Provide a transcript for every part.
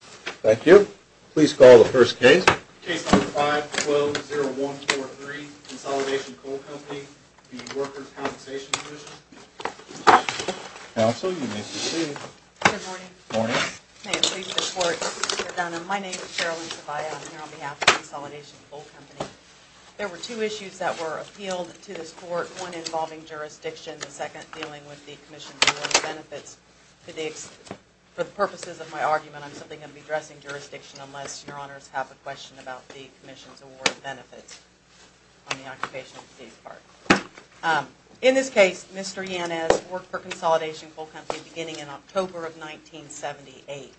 Thank you. Please call the first case. Case number 5-12-0143, Consolidated Coal Company v. Workers' Compensation Comm'n. Counsel, you may proceed. Good morning. Morning. May it please the Court, Mr. Dunham. My name is Carolyn Tobiah. I'm here on behalf of Consolidated Coal Company. There were two issues that were appealed to this Court, one involving jurisdiction, the second dealing with the Commission's related benefits. For the purposes of my argument, I'm simply going to be addressing jurisdiction unless your Honors have a question about the Commission's award of benefits on the Occupational Disease Part. In this case, Mr. Yanez worked for Consolidated Coal Company beginning in October of 1978.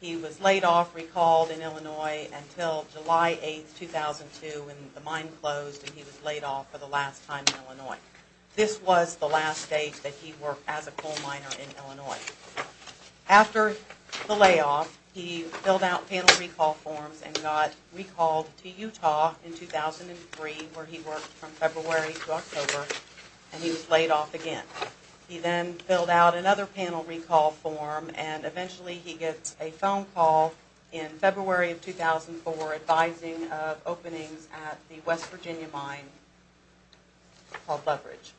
He was laid off, recalled in Illinois until July 8, 2002 when the mine closed and he was laid off for the last time in Illinois. This was the last date that he worked as a coal miner in Illinois. After the layoff, he filled out panel recall forms and got recalled to Utah in 2003 where he worked from February to October and he was laid off again. He then filled out another panel recall form and eventually he gets a phone call in February of 2004 advising of openings at the West Virginia mine called Loveridge.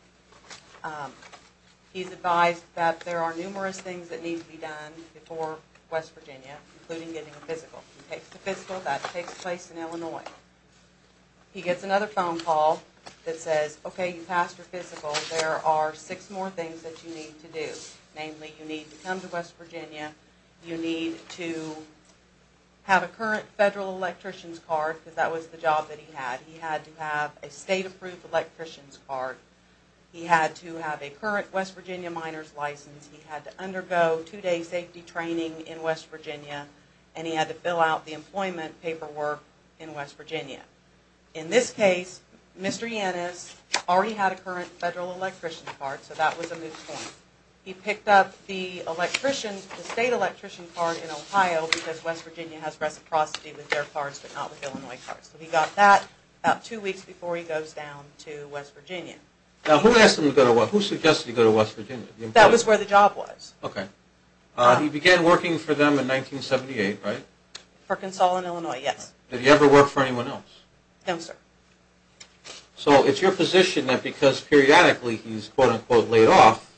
He's advised that there are numerous things that need to be done before West Virginia, including getting a physical. He takes the physical, that takes place in Illinois. He gets another phone call that says, okay, you passed your physical. There are six more things that you need to do. Namely, you need to come to West Virginia. You need to have a current federal electrician's card because that was the job that he had. He had to have a state approved electrician's card. He had to have a current West Virginia miner's license. He had to undergo two day safety training in West Virginia and he had to fill out the employment paperwork in West Virginia. In this case, Mr. Yannis already had a current federal electrician's card, so that was a moot point. He picked up the state electrician's card in Ohio because West Virginia has reciprocity with their cards but not with Illinois' cards. So he got that about two weeks before he goes down to West Virginia. Now who asked him to go to West Virginia? Who suggested he go to West Virginia? That was where the job was. Okay. He began working for them in 1978, right? Perkins Hall in Illinois, yes. Did he ever work for anyone else? No, sir. So it's your position that because periodically he's quote-unquote laid off,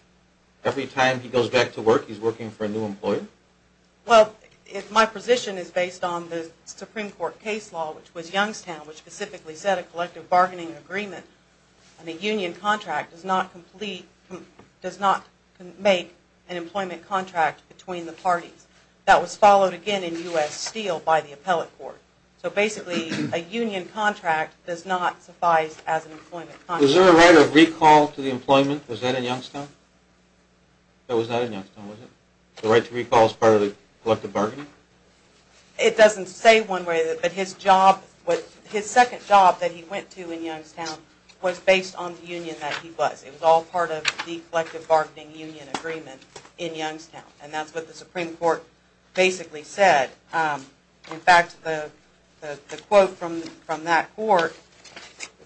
every time he goes back to work he's working for a new employer? Well, my position is based on the Supreme Court case law, which was Youngstown, which specifically set a collective bargaining agreement. A union contract does not make an employment contract between the parties. That was followed again in U.S. Steel by the appellate court. So basically a union contract does not suffice as an employment contract. Was there a right of recall to the employment? Was that in Youngstown? That was not in Youngstown, was it? The right to recall is part of the collective bargaining? It doesn't say one way, but his job, his second job that he went to in Youngstown was based on the union that he was. It was all part of the collective bargaining union agreement in Youngstown. And that's what the Supreme Court basically said. In fact, the quote from that court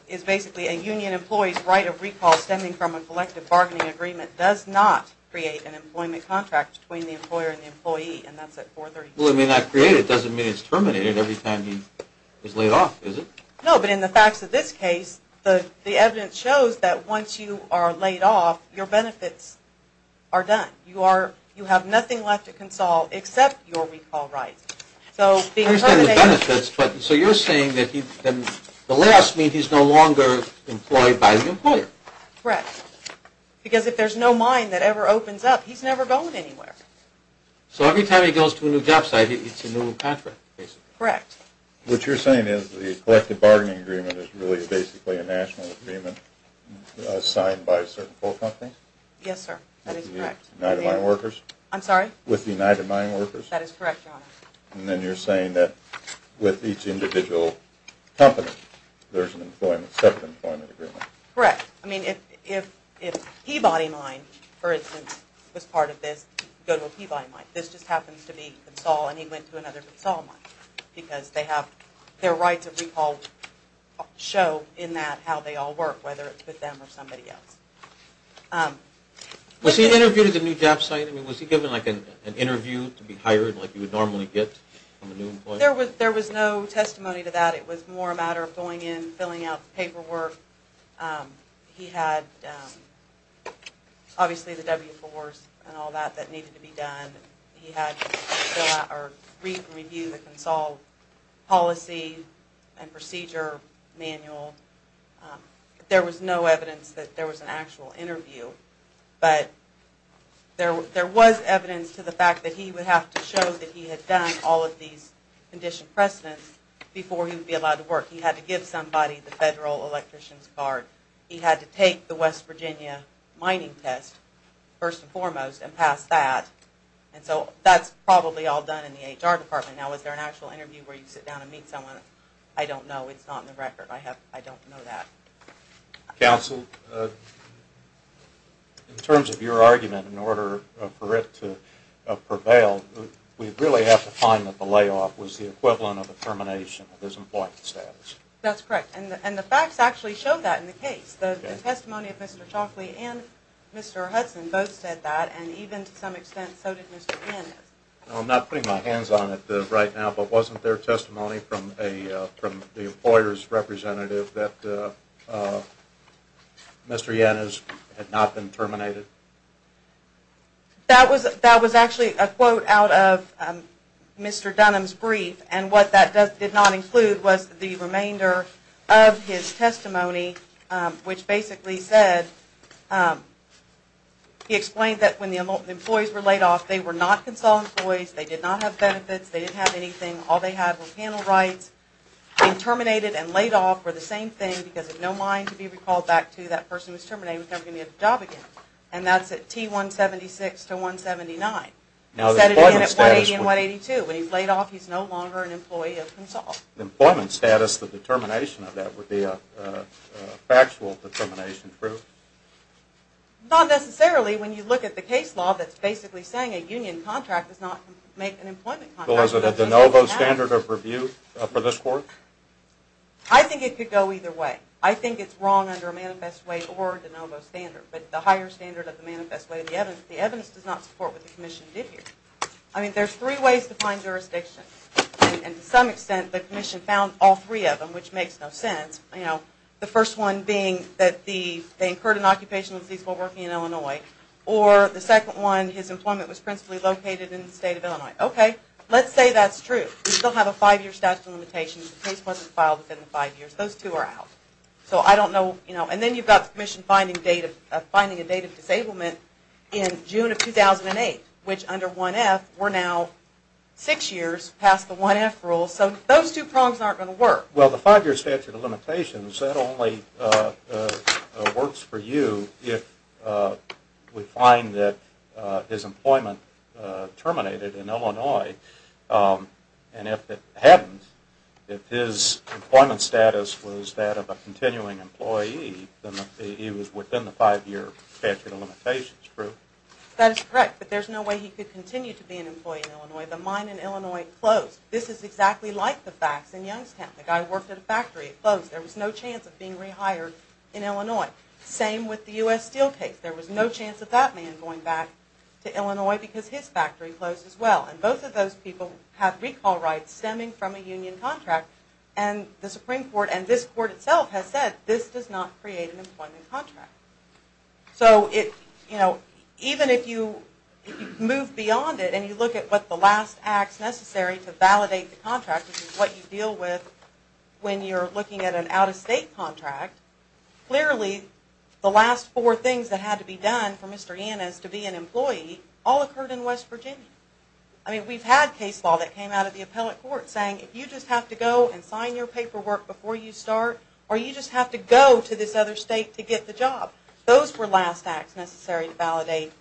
is basically a union employee's right of recall stemming from a collective bargaining agreement does not create an employment contract between the employer and the employee, and that's at 432. Well, it may not create it. It doesn't mean it's terminated every time he is laid off, does it? No, but in the facts of this case, the evidence shows that once you are laid off, your benefits are done. You have nothing left to console except your recall rights. So you're saying that the layoffs mean he's no longer employed by the employer. Correct. Because if there's no mine that ever opens up, he's never going anywhere. So every time he goes to a new job site, it's a new contract, basically. Correct. What you're saying is the collective bargaining agreement is really basically a national agreement signed by certain coal companies? Yes, sir. That is correct. With the United Mine Workers? I'm sorry? With the United Mine Workers? That is correct, Your Honor. And then you're saying that with each individual company, there's a separate employment agreement? Correct. I mean, if Peabody Mine, for instance, was part of this, go to a Peabody Mine. This just happens to be Consul, and he went to another Consul mine, because their rights of recall show in that how they all work, whether it's with them or somebody else. Was he interviewed at the new job site? I mean, was he given an interview to be hired like you would normally get from a new employer? There was no testimony to that. It was more a matter of going in, filling out the paperwork. He had, obviously, the W-4s and all that that needed to be done. He had to read and review the Consul policy and procedure manual. There was no evidence that there was an actual interview. But there was evidence to the fact that he would have to show that he had done all of these condition precedents before he would be allowed to work. He had to give somebody the federal electrician's card. He had to take the West Virginia mining test, first and foremost, and pass that. And so that's probably all done in the HR department. Now, is there an actual interview where you sit down and meet someone? I don't know. It's not in the record. I don't know that. Counsel, in terms of your argument, in order for it to prevail, we really have to find that the layoff was the equivalent of a termination of his employment status. That's correct. And the facts actually show that in the case. The testimony of Mr. Chalkley and Mr. Hudson both said that. And even to some extent, so did Mr. Penn. I'm not putting my hands on it right now, but wasn't there testimony from the employer's representative that Mr. Yannis had not been terminated? That was actually a quote out of Mr. Dunham's brief, and what that did not include was the remainder of his testimony, which basically said he explained that when the employees were laid off, they were not Consul employees, they did not have benefits, they didn't have anything, all they had were panel rights. Being terminated and laid off were the same thing, because it's no mind to be recalled back to that person who was terminated and was never going to get a job again. And that's at T-176 to 179. He said it again at 180 and 182. When he's laid off, he's no longer an employee of Consul. Employment status, the determination of that would be a factual determination, true? Not necessarily. When you look at the case law, that's basically saying a union contract does not make an employment contract. Well, is it a de novo standard of review for this court? I think it could go either way. I think it's wrong under a manifest way or a de novo standard, but the higher standard of the manifest way, the evidence does not support what the Commission did here. I mean, there's three ways to find jurisdiction, and to some extent the Commission found all three of them, which makes no sense. The first one being that they incurred an occupational disease while working in Illinois, or the second one, his employment was principally located in the state of Illinois. Okay, let's say that's true. We still have a five-year statute of limitations. The case wasn't filed within the five years. Those two are out. So I don't know. And then you've got the Commission finding a date of disablement in June of 2008, which under 1F, we're now six years past the 1F rule. So those two prongs aren't going to work. Well, the five-year statute of limitations, that only works for you if we find that his employment terminated in Illinois. And if it hadn't, if his employment status was that of a continuing employee, then he was within the five-year statute of limitations, true? That is correct, but there's no way he could continue to be an employee in Illinois. The mine in Illinois closed. This is exactly like the facts in Youngstown. The guy worked at a factory. It closed. There was no chance of being rehired in Illinois. Same with the U.S. Steel case. There was no chance of that man going back to Illinois because his factory closed as well. And both of those people have recall rights stemming from a union contract, and the Supreme Court and this Court itself has said this does not create an employment contract. So even if you move beyond it and you look at what the last acts necessary to validate the contract, which is what you deal with when you're looking at an out-of-state contract, clearly the last four things that had to be done for Mr. Yannis to be an employee all occurred in West Virginia. I mean, we've had case law that came out of the appellate court saying if you just have to go and sign your paperwork before you start or you just have to go to this other state to get the job, those were last acts necessary to validate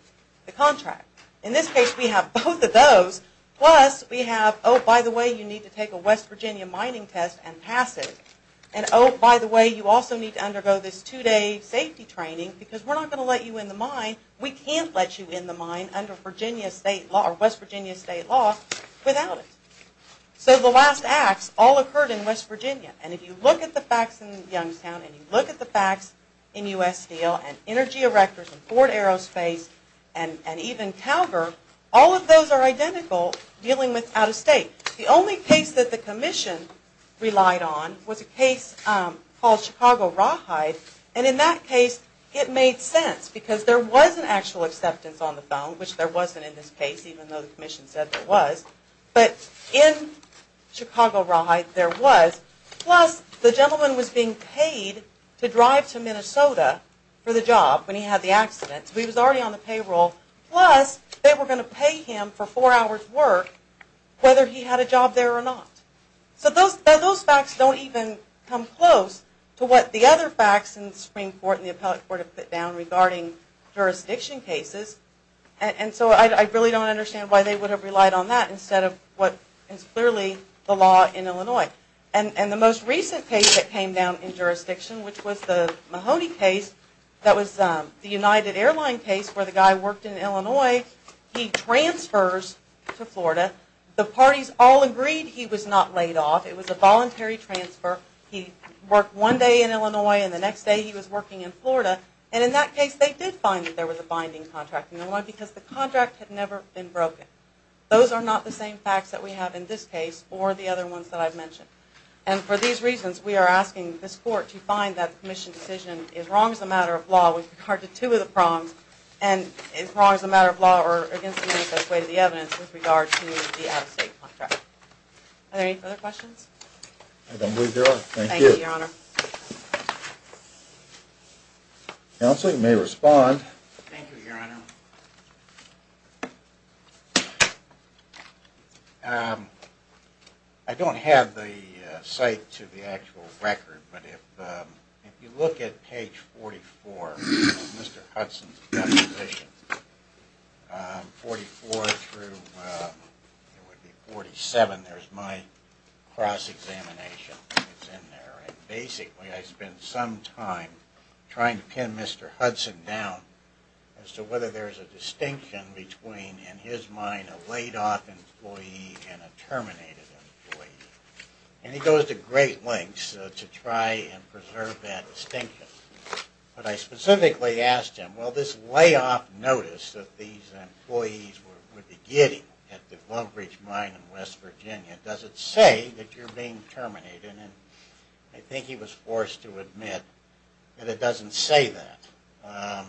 the contract. In this case, we have both of those. Plus we have, oh, by the way, you need to take a West Virginia mining test and pass it. And, oh, by the way, you also need to undergo this two-day safety training because we're not going to let you in the mine. We can't let you in the mine under West Virginia state law without it. So the last acts all occurred in West Virginia. And if you look at the facts in Youngstown and you look at the facts in U.S. Steel and Energy Erectors and Ford Aerospace and even Calgar, all of those are identical dealing with out-of-state. The only case that the Commission relied on was a case called Chicago Rawhide. And in that case, it made sense because there was an actual acceptance on the phone, which there wasn't in this case, even though the Commission said there was. But in Chicago Rawhide, there was. Plus the gentleman was being paid to drive to Minnesota for the job when he had the accident. So he was already on the payroll. Plus they were going to pay him for four hours' work whether he had a job there or not. So those facts don't even come close to what the other facts in the Supreme Court and the Appellate Court have put down regarding jurisdiction cases. And so I really don't understand why they would have relied on that instead of what is clearly the law in Illinois. And the most recent case that came down in jurisdiction, which was the Mahoney case that was the United Airlines case where the guy worked in Illinois, he transfers to Florida. The parties all agreed he was not laid off. It was a voluntary transfer. He worked one day in Illinois and the next day he was working in Florida. And in that case, they did find that there was a binding contract in Illinois because the contract had never been broken. Those are not the same facts that we have in this case or the other ones that I've mentioned. And for these reasons, we are asking this court to find that the commission decision is wrong as a matter of law with regard to two of the prongs and is wrong as a matter of law or against the manifest way to the evidence with regard to the out-of-state contract. Are there any further questions? I don't believe there are. Thank you. Thank you, Your Honor. Counsel, you may respond. Thank you, Your Honor. I don't have the site to the actual record, but if you look at page 44 of Mr. Hudson's deposition, 44 through 47, there's my cross-examination. It's in there. And basically, I spent some time trying to pin Mr. Hudson down as to whether there's a distinction between, in his mind, a laid-off employee and a terminated employee. And he goes to great lengths to try and preserve that distinction. But I specifically asked him, well, this lay-off notice that these employees were getting at the Lovebridge mine in West Virginia, does it say that you're being terminated? And I think he was forced to admit that it doesn't say that.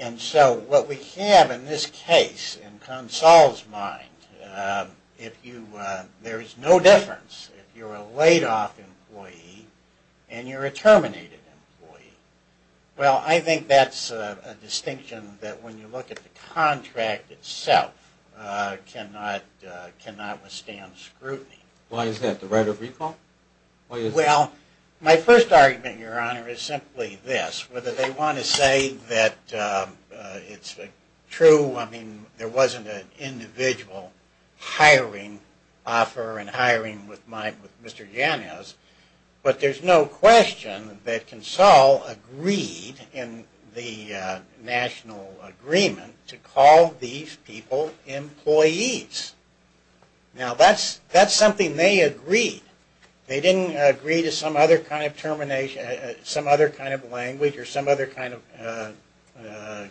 And so what we have in this case, in Consol's mind, there is no difference if you're a laid-off employee and you're a terminated employee. Well, I think that's a distinction that, when you look at the contract itself, cannot withstand scrutiny. Why is that? The right of recall? Well, my first argument, Your Honor, is simply this. Whether they want to say that it's true. I mean, there wasn't an individual hiring offer and hiring with Mr. Janos. But there's no question that Consol agreed in the national agreement to call these people employees. Now, that's something they agreed. They didn't agree to some other kind of termination, some other kind of language, or some other kind of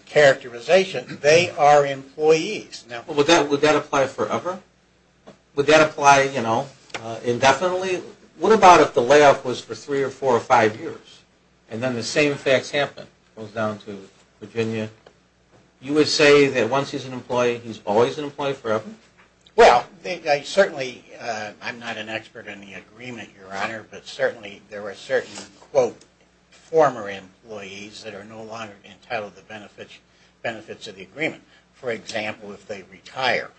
characterization. They are employees. Well, would that apply forever? Would that apply, you know, indefinitely? What about if the lay-off was for three or four or five years, and then the same facts happen? It goes down to Virginia. You would say that once he's an employee, he's always an employee forever? Well, certainly I'm not an expert on the agreement, Your Honor, but certainly there were certain, quote, former employees that are no longer entitled to benefits of the agreement. For example, if they retire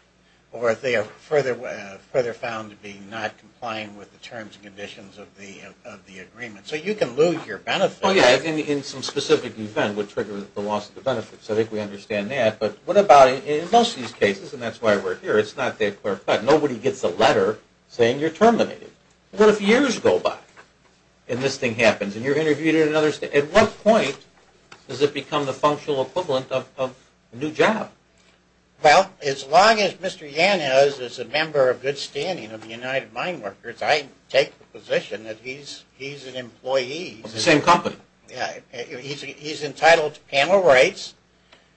or if they are further found to be not complying with the terms and conditions of the agreement. So you can lose your benefit. Oh, yeah, in some specific event would trigger the loss of the benefits. I think we understand that. But what about in most of these cases, and that's why we're here, it's not that clarified. Nobody gets a letter saying you're terminated. What if years go by and this thing happens and you're interviewed in another state? At what point does it become the functional equivalent of a new job? Well, as long as Mr. Yan is a member of good standing of the United Mine Workers, I take the position that he's an employee. It's the same company. Yeah, he's entitled to panel rights,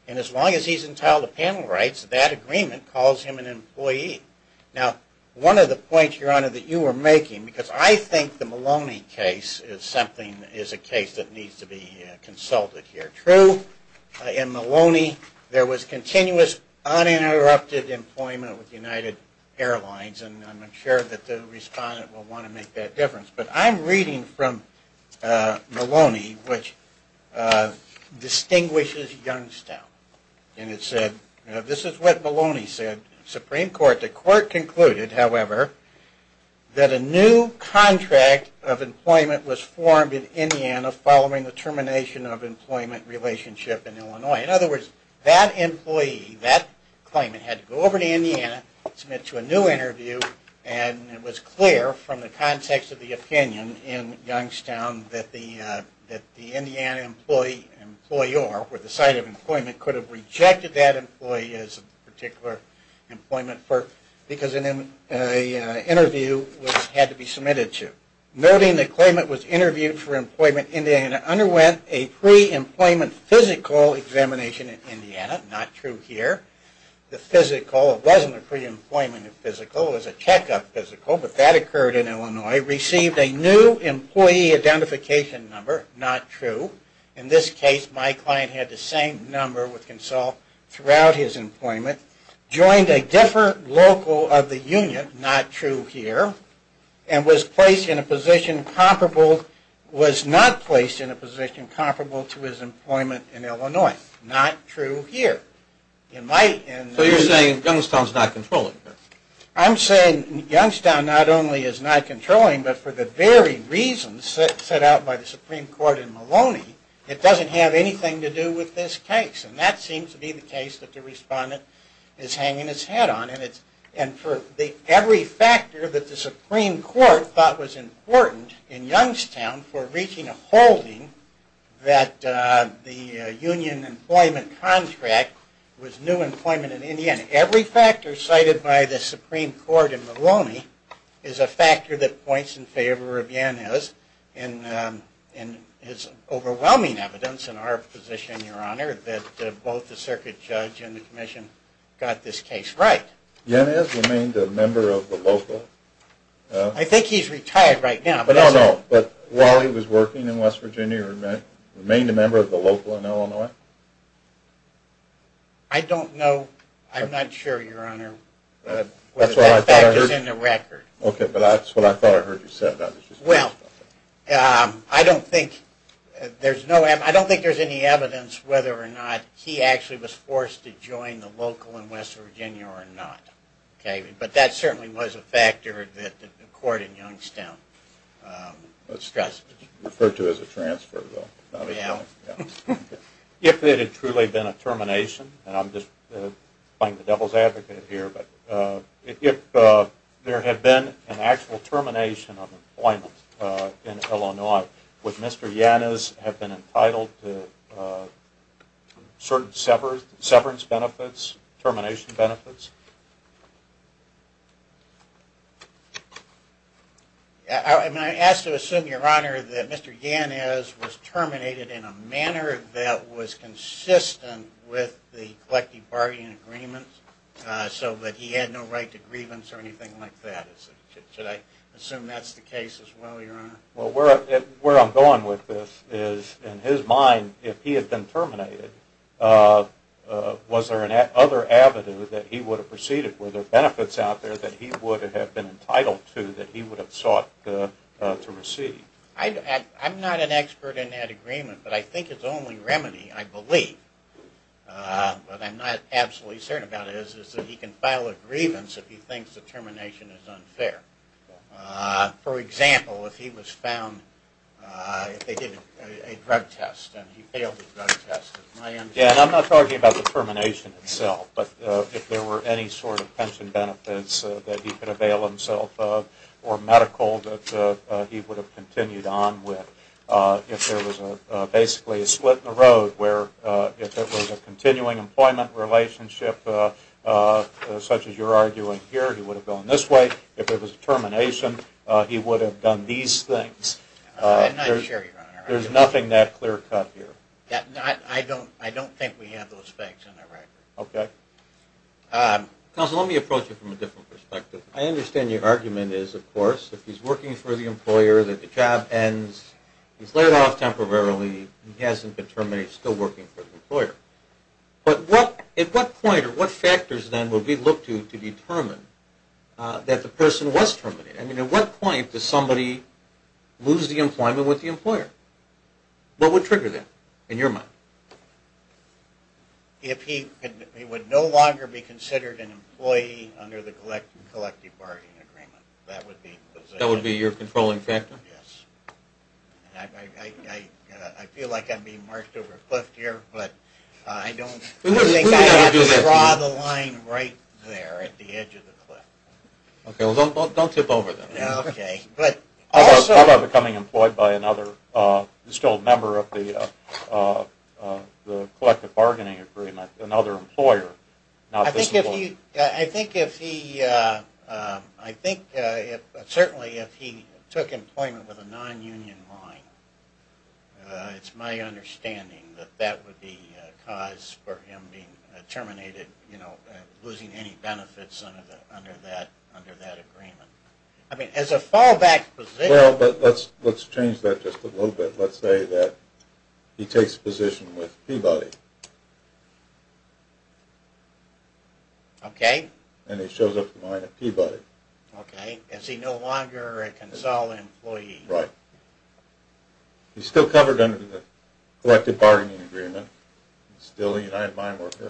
and as long as he's entitled to panel rights, that agreement calls him an employee. Now, one of the points, Your Honor, that you were making, because I think the Maloney case is something that is a case that needs to be consulted here. True, in Maloney there was continuous uninterrupted employment with United Airlines, and I'm sure that the respondent will want to make that difference. But I'm reading from Maloney, which distinguishes Youngstown, and it said, this is what Maloney said, Supreme Court, the court concluded, however, that a new contract of employment was formed in Indiana following the termination of employment relationship in Illinois. In other words, that employee, that claimant had to go over to Indiana, submit to a new interview, and it was clear from the context of the opinion in Youngstown that the Indiana employee, employer, or the site of employment could have rejected that employee as a particular employment because an interview had to be submitted to. Noting the claimant was interviewed for employment, Indiana underwent a pre-employment physical examination in Indiana. Not true here. The physical wasn't a pre-employment physical. It was a checkup physical, but that occurred in Illinois. Received a new employee identification number. Not true. In this case, my client had the same number with consult throughout his employment. Joined a different local of the union. Not true here. And was placed in a position comparable, was not placed in a position comparable to his employment in Illinois. Not true here. So you're saying Youngstown's not controlling this? I'm saying Youngstown not only is not controlling, but for the very reasons set out by the Supreme Court in Maloney, it doesn't have anything to do with this case. And that seems to be the case that the respondent is hanging his head on. And for every factor that the Supreme Court thought was important in Youngstown for reaching a holding that the union employment contract was new employment in Indiana. Every factor cited by the Supreme Court in Maloney is a factor that points in favor of Yanez and is overwhelming evidence in our position, Your Honor, that both the circuit judge and the commission got this case right. Yanez remained a member of the LOPA. I think he's retired right now. No, no, but while he was working in West Virginia, he remained a member of the LOPA in Illinois? I don't know. I'm not sure, Your Honor. That's what I thought I heard. That fact is in the record. Okay, but that's what I thought I heard you say. Well, I don't think there's any evidence whether or not he actually was forced to join the LOPA in West Virginia or not. But that certainly was a factor that the court in Youngstown stressed. Referred to as a transfer, though. If it had truly been a termination, and I'm just playing the devil's advocate here, but if there had been an actual termination of employment in Illinois, would Mr. Yanez have been entitled to certain severance benefits, termination benefits? I ask to assume, Your Honor, that Mr. Yanez was terminated in a manner that was consistent with the collective bargaining agreement, so that he had no right to grievance or anything like that. Should I assume that's the case as well, Your Honor? Well, where I'm going with this is, in his mind, if he had been terminated, was there another avenue that he would have proceeded? Were there benefits out there that he would have been entitled to that he would have sought to receive? I'm not an expert in that agreement, but I think its only remedy, I believe, but I'm not absolutely certain about it, is that he can file a grievance if he thinks the termination is unfair. For example, if he was found, if they did a drug test and he failed the drug test. Yeah, and I'm not talking about the termination itself, but if there were any sort of pension benefits that he could avail himself of, or medical that he would have continued on with. If there was basically a split in the road, where if it was a continuing employment relationship, such as you're arguing here, he would have gone this way. If it was a termination, he would have done these things. I'm not sure, Your Honor. There's nothing that clear-cut here. I don't think we have those facts on the record. Okay. Counsel, let me approach it from a different perspective. I understand your argument is, of course, if he's working for the employer, that the job ends, he's laid off temporarily, he hasn't been terminated, he's still working for the employer. But at what point or what factors, then, would we look to determine that the person was terminated? I mean, at what point does somebody lose the employment with the employer? What would trigger that, in your mind? If he would no longer be considered an employee under the collective bargaining agreement. That would be your controlling factor? Yes. I feel like I'm being marched over a cliff here, but I don't think I have to draw the line right there at the edge of the cliff. Okay. Well, don't tip over, then. Okay. How about becoming employed by another, still a member of the collective bargaining agreement, another employer? I think certainly if he took employment with a non-union line, it's my understanding that that would be a cause for him being terminated, you know, losing any benefits under that agreement. I mean, as a fallback position. Well, but let's change that just a little bit. Let's say that he takes a position with Peabody. Okay. And he shows up to mine at Peabody. Okay. Is he no longer a consul employee? Right. He's still covered under the collective bargaining agreement. Still a United Mine worker.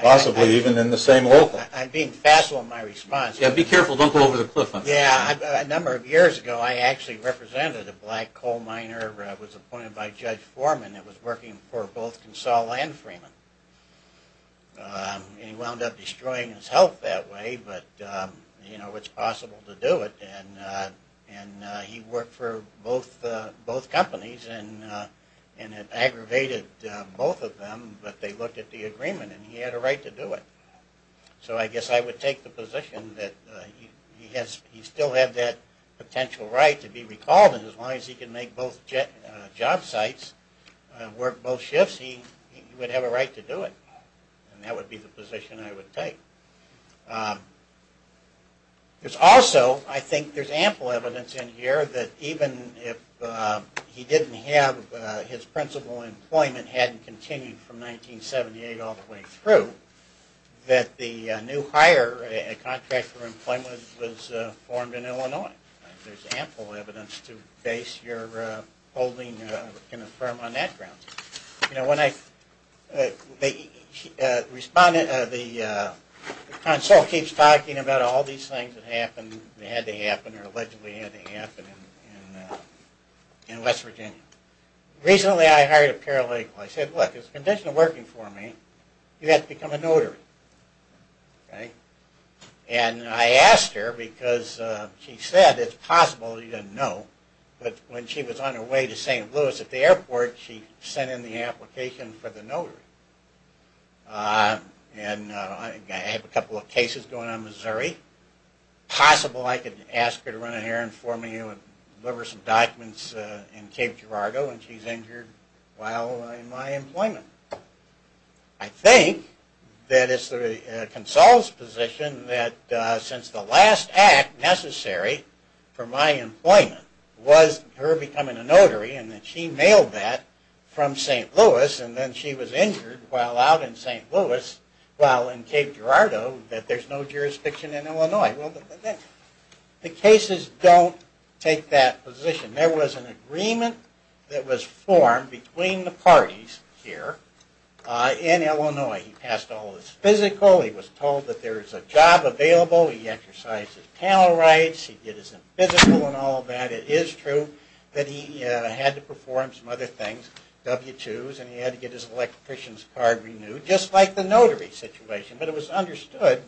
Possibly even in the same local. I'm being facile in my response. Yeah, be careful. Don't go over the cliff. Yeah, a number of years ago, I actually represented a black coal miner who was appointed by Judge Foreman and was working for both Consol and Freeman. And he wound up destroying his health that way, but, you know, it's possible to do it. And he worked for both companies and had aggravated both of them, but they looked at the agreement and he had a right to do it. So I guess I would take the position that he still had that potential right to be recalled, and as long as he can make both job sites, work both shifts, he would have a right to do it. And that would be the position I would take. There's also, I think there's ample evidence in here that even if he didn't have his principal employment, hadn't continued from 1978 all the way through, that the new hire, a contract for employment was formed in Illinois. There's ample evidence to base your holding in a firm on that grounds. You know, when I respond, the Consul keeps talking about all these things that happened, that had to happen or allegedly had to happen in West Virginia. Recently I hired a paralegal. I said, look, as a condition of working for me, you have to become a notary. And I asked her because she said it's possible, she didn't know, but when she was on her way to St. Louis at the airport, she sent in the application for the notary. And I have a couple of cases going on in Missouri. Possible I could ask her to run in here and form you and deliver some documents in Cape Girardeau when she's injured while in my employment. I think that it's the Consul's position that since the last act necessary for my employment was her becoming a notary and that she mailed that from St. Louis and then she was injured while out in St. Louis, while in Cape Girardeau, that there's no jurisdiction in Illinois. The cases don't take that position. There was an agreement that was formed between the parties here in Illinois. He passed all his physical. He was told that there was a job available. He exercised his panel rights. He did his physical and all of that. It is true that he had to perform some other things, W-2s, and he had to get his electrician's card renewed, just like the notary situation. But it was understood,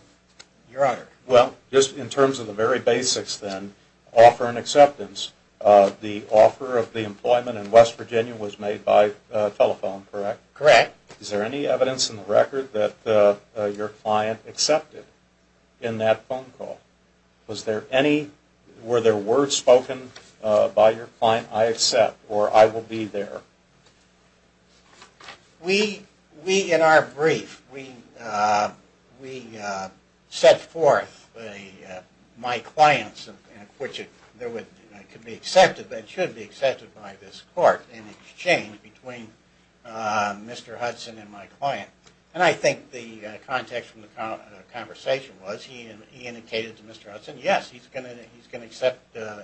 Your Honor. Well, just in terms of the very basics then, offer and acceptance, the offer of the employment in West Virginia was made by telephone, correct? Correct. Is there any evidence in the record that your client accepted in that phone call? Were there words spoken by your client, I accept or I will be there? We, in our brief, set forth my client's, which could be accepted and should be accepted by this Court in exchange between Mr. Hudson and my client. And I think the context from the conversation was he indicated to Mr. Hudson, yes, he's going to accept,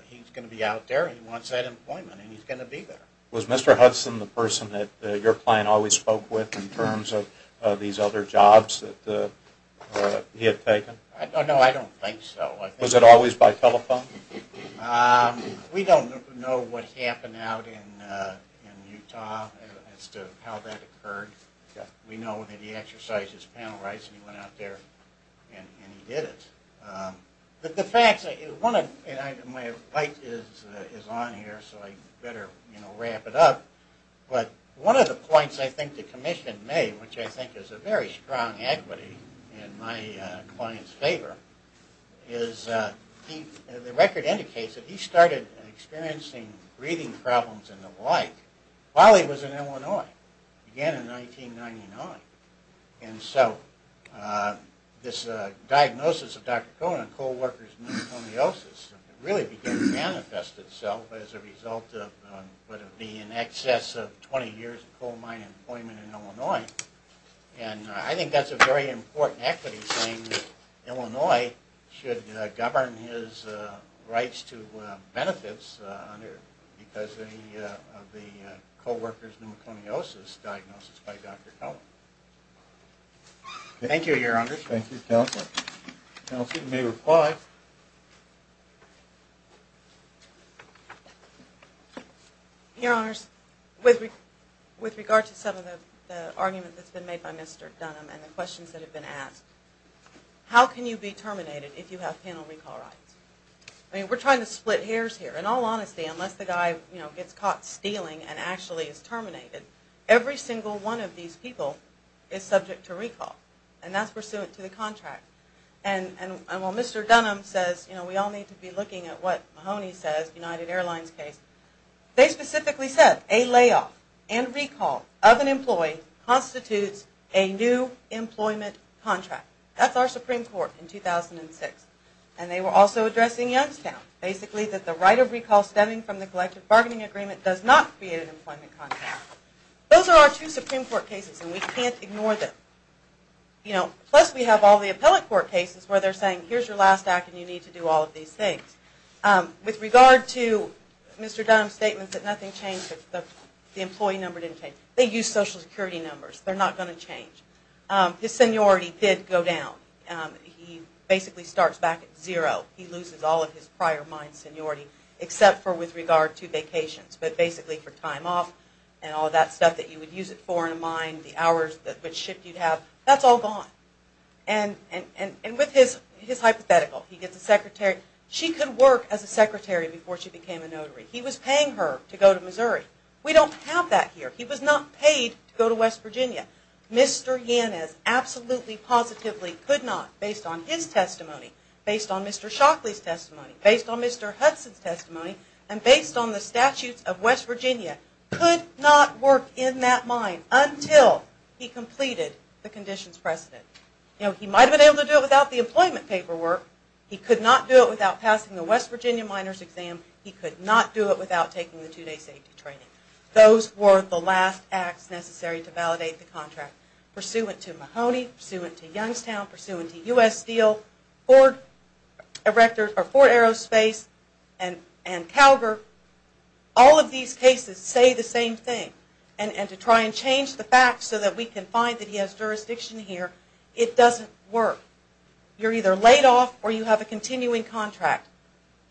he's going to be out there and he wants that employment and he's going to be there. Was Mr. Hudson the person that your client always spoke with in terms of these other jobs that he had taken? No, I don't think so. Was it always by telephone? We don't know what happened out in Utah as to how that occurred. We know that he exercised his panel rights and he went out there and he did it. But the facts, my bite is on here so I better wrap it up, but one of the points I think the Commission made, which I think is a very strong equity in my client's favor, is the record indicates that he started experiencing breathing problems and the like while he was in Illinois, again in 1999. And so this diagnosis of Dr. Cohen of coal worker's pneumoconiosis really began to manifest itself as a result of what would be in excess of 20 years of coal mine employment in Illinois. And I think that's a very important equity saying that Illinois should govern his rights to benefits because of the coal worker's pneumoconiosis diagnosis by Dr. Cohen. Thank you, Your Honors. Thank you, Counselor. Counselor, you may reply. Your Honors, with regard to some of the argument that's been made by Mr. Dunham and the questions that have been asked, how can you be terminated if you have panel recall rights? We're trying to split hairs here. In all honesty, unless the guy gets caught stealing and actually is terminated, every single one of these people is subject to recall and that's pursuant to the contract. And while Mr. Dunham says we all need to be looking at what Mahoney says, United Airlines case, they specifically said a layoff and recall of an employee constitutes a new employment contract. That's our Supreme Court in 2006. And they were also addressing Youngstown, basically that the right of recall stemming from the collective bargaining agreement does not create an employment contract. Those are our two Supreme Court cases and we can't ignore them. Plus we have all the appellate court cases where they're saying here's your last act and you need to do all of these things. With regard to Mr. Dunham's statement that nothing changed, the employee number didn't change. They used Social Security numbers. They're not going to change. His seniority did go down. He basically starts back at zero. He loses all of his prior mine seniority except for with regard to vacations, but basically for time off and all that stuff that you would use it for in a mine, the hours, which shift you'd have, that's all gone. And with his hypothetical, he gets a secretary. She could work as a secretary before she became a notary. He was paying her to go to Missouri. We don't have that here. He was not paid to go to West Virginia. Mr. Yanez absolutely positively could not, based on his testimony, based on Mr. Shockley's testimony, based on Mr. Hudson's testimony, and based on the statutes of West Virginia, could not work in that mine until he completed the conditions precedent. He might have been able to do it without the employment paperwork. He could not do it without passing the West Virginia minors exam. He could not do it without taking the two-day safety training. Those were the last acts necessary to validate the contract. Pursuant to Mahoney, pursuant to Youngstown, pursuant to U.S. Steel, Ford Aerospace and Calgar, all of these cases say the same thing. And to try and change the facts so that we can find that he has jurisdiction here, it doesn't work. You're either laid off or you have a continuing contract.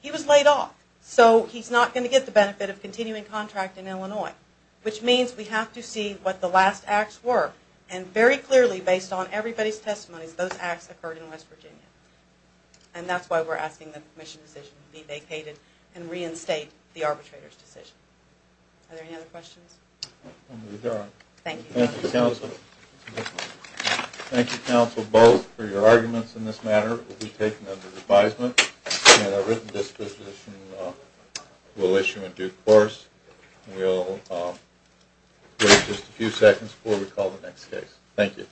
He was laid off, so he's not going to get the benefit of continuing contract in Illinois, which means we have to see what the last acts were. And very clearly, based on everybody's testimonies, those acts occurred in West Virginia. And that's why we're asking the commission decision to be vacated and reinstate the arbitrator's decision. Are there any other questions? Thank you, counsel. Thank you, counsel, both, for your arguments in this matter. This report will be taken under advisement, and a written disposition will issue in due course. We'll wait just a few seconds before we call the next case. Thank you.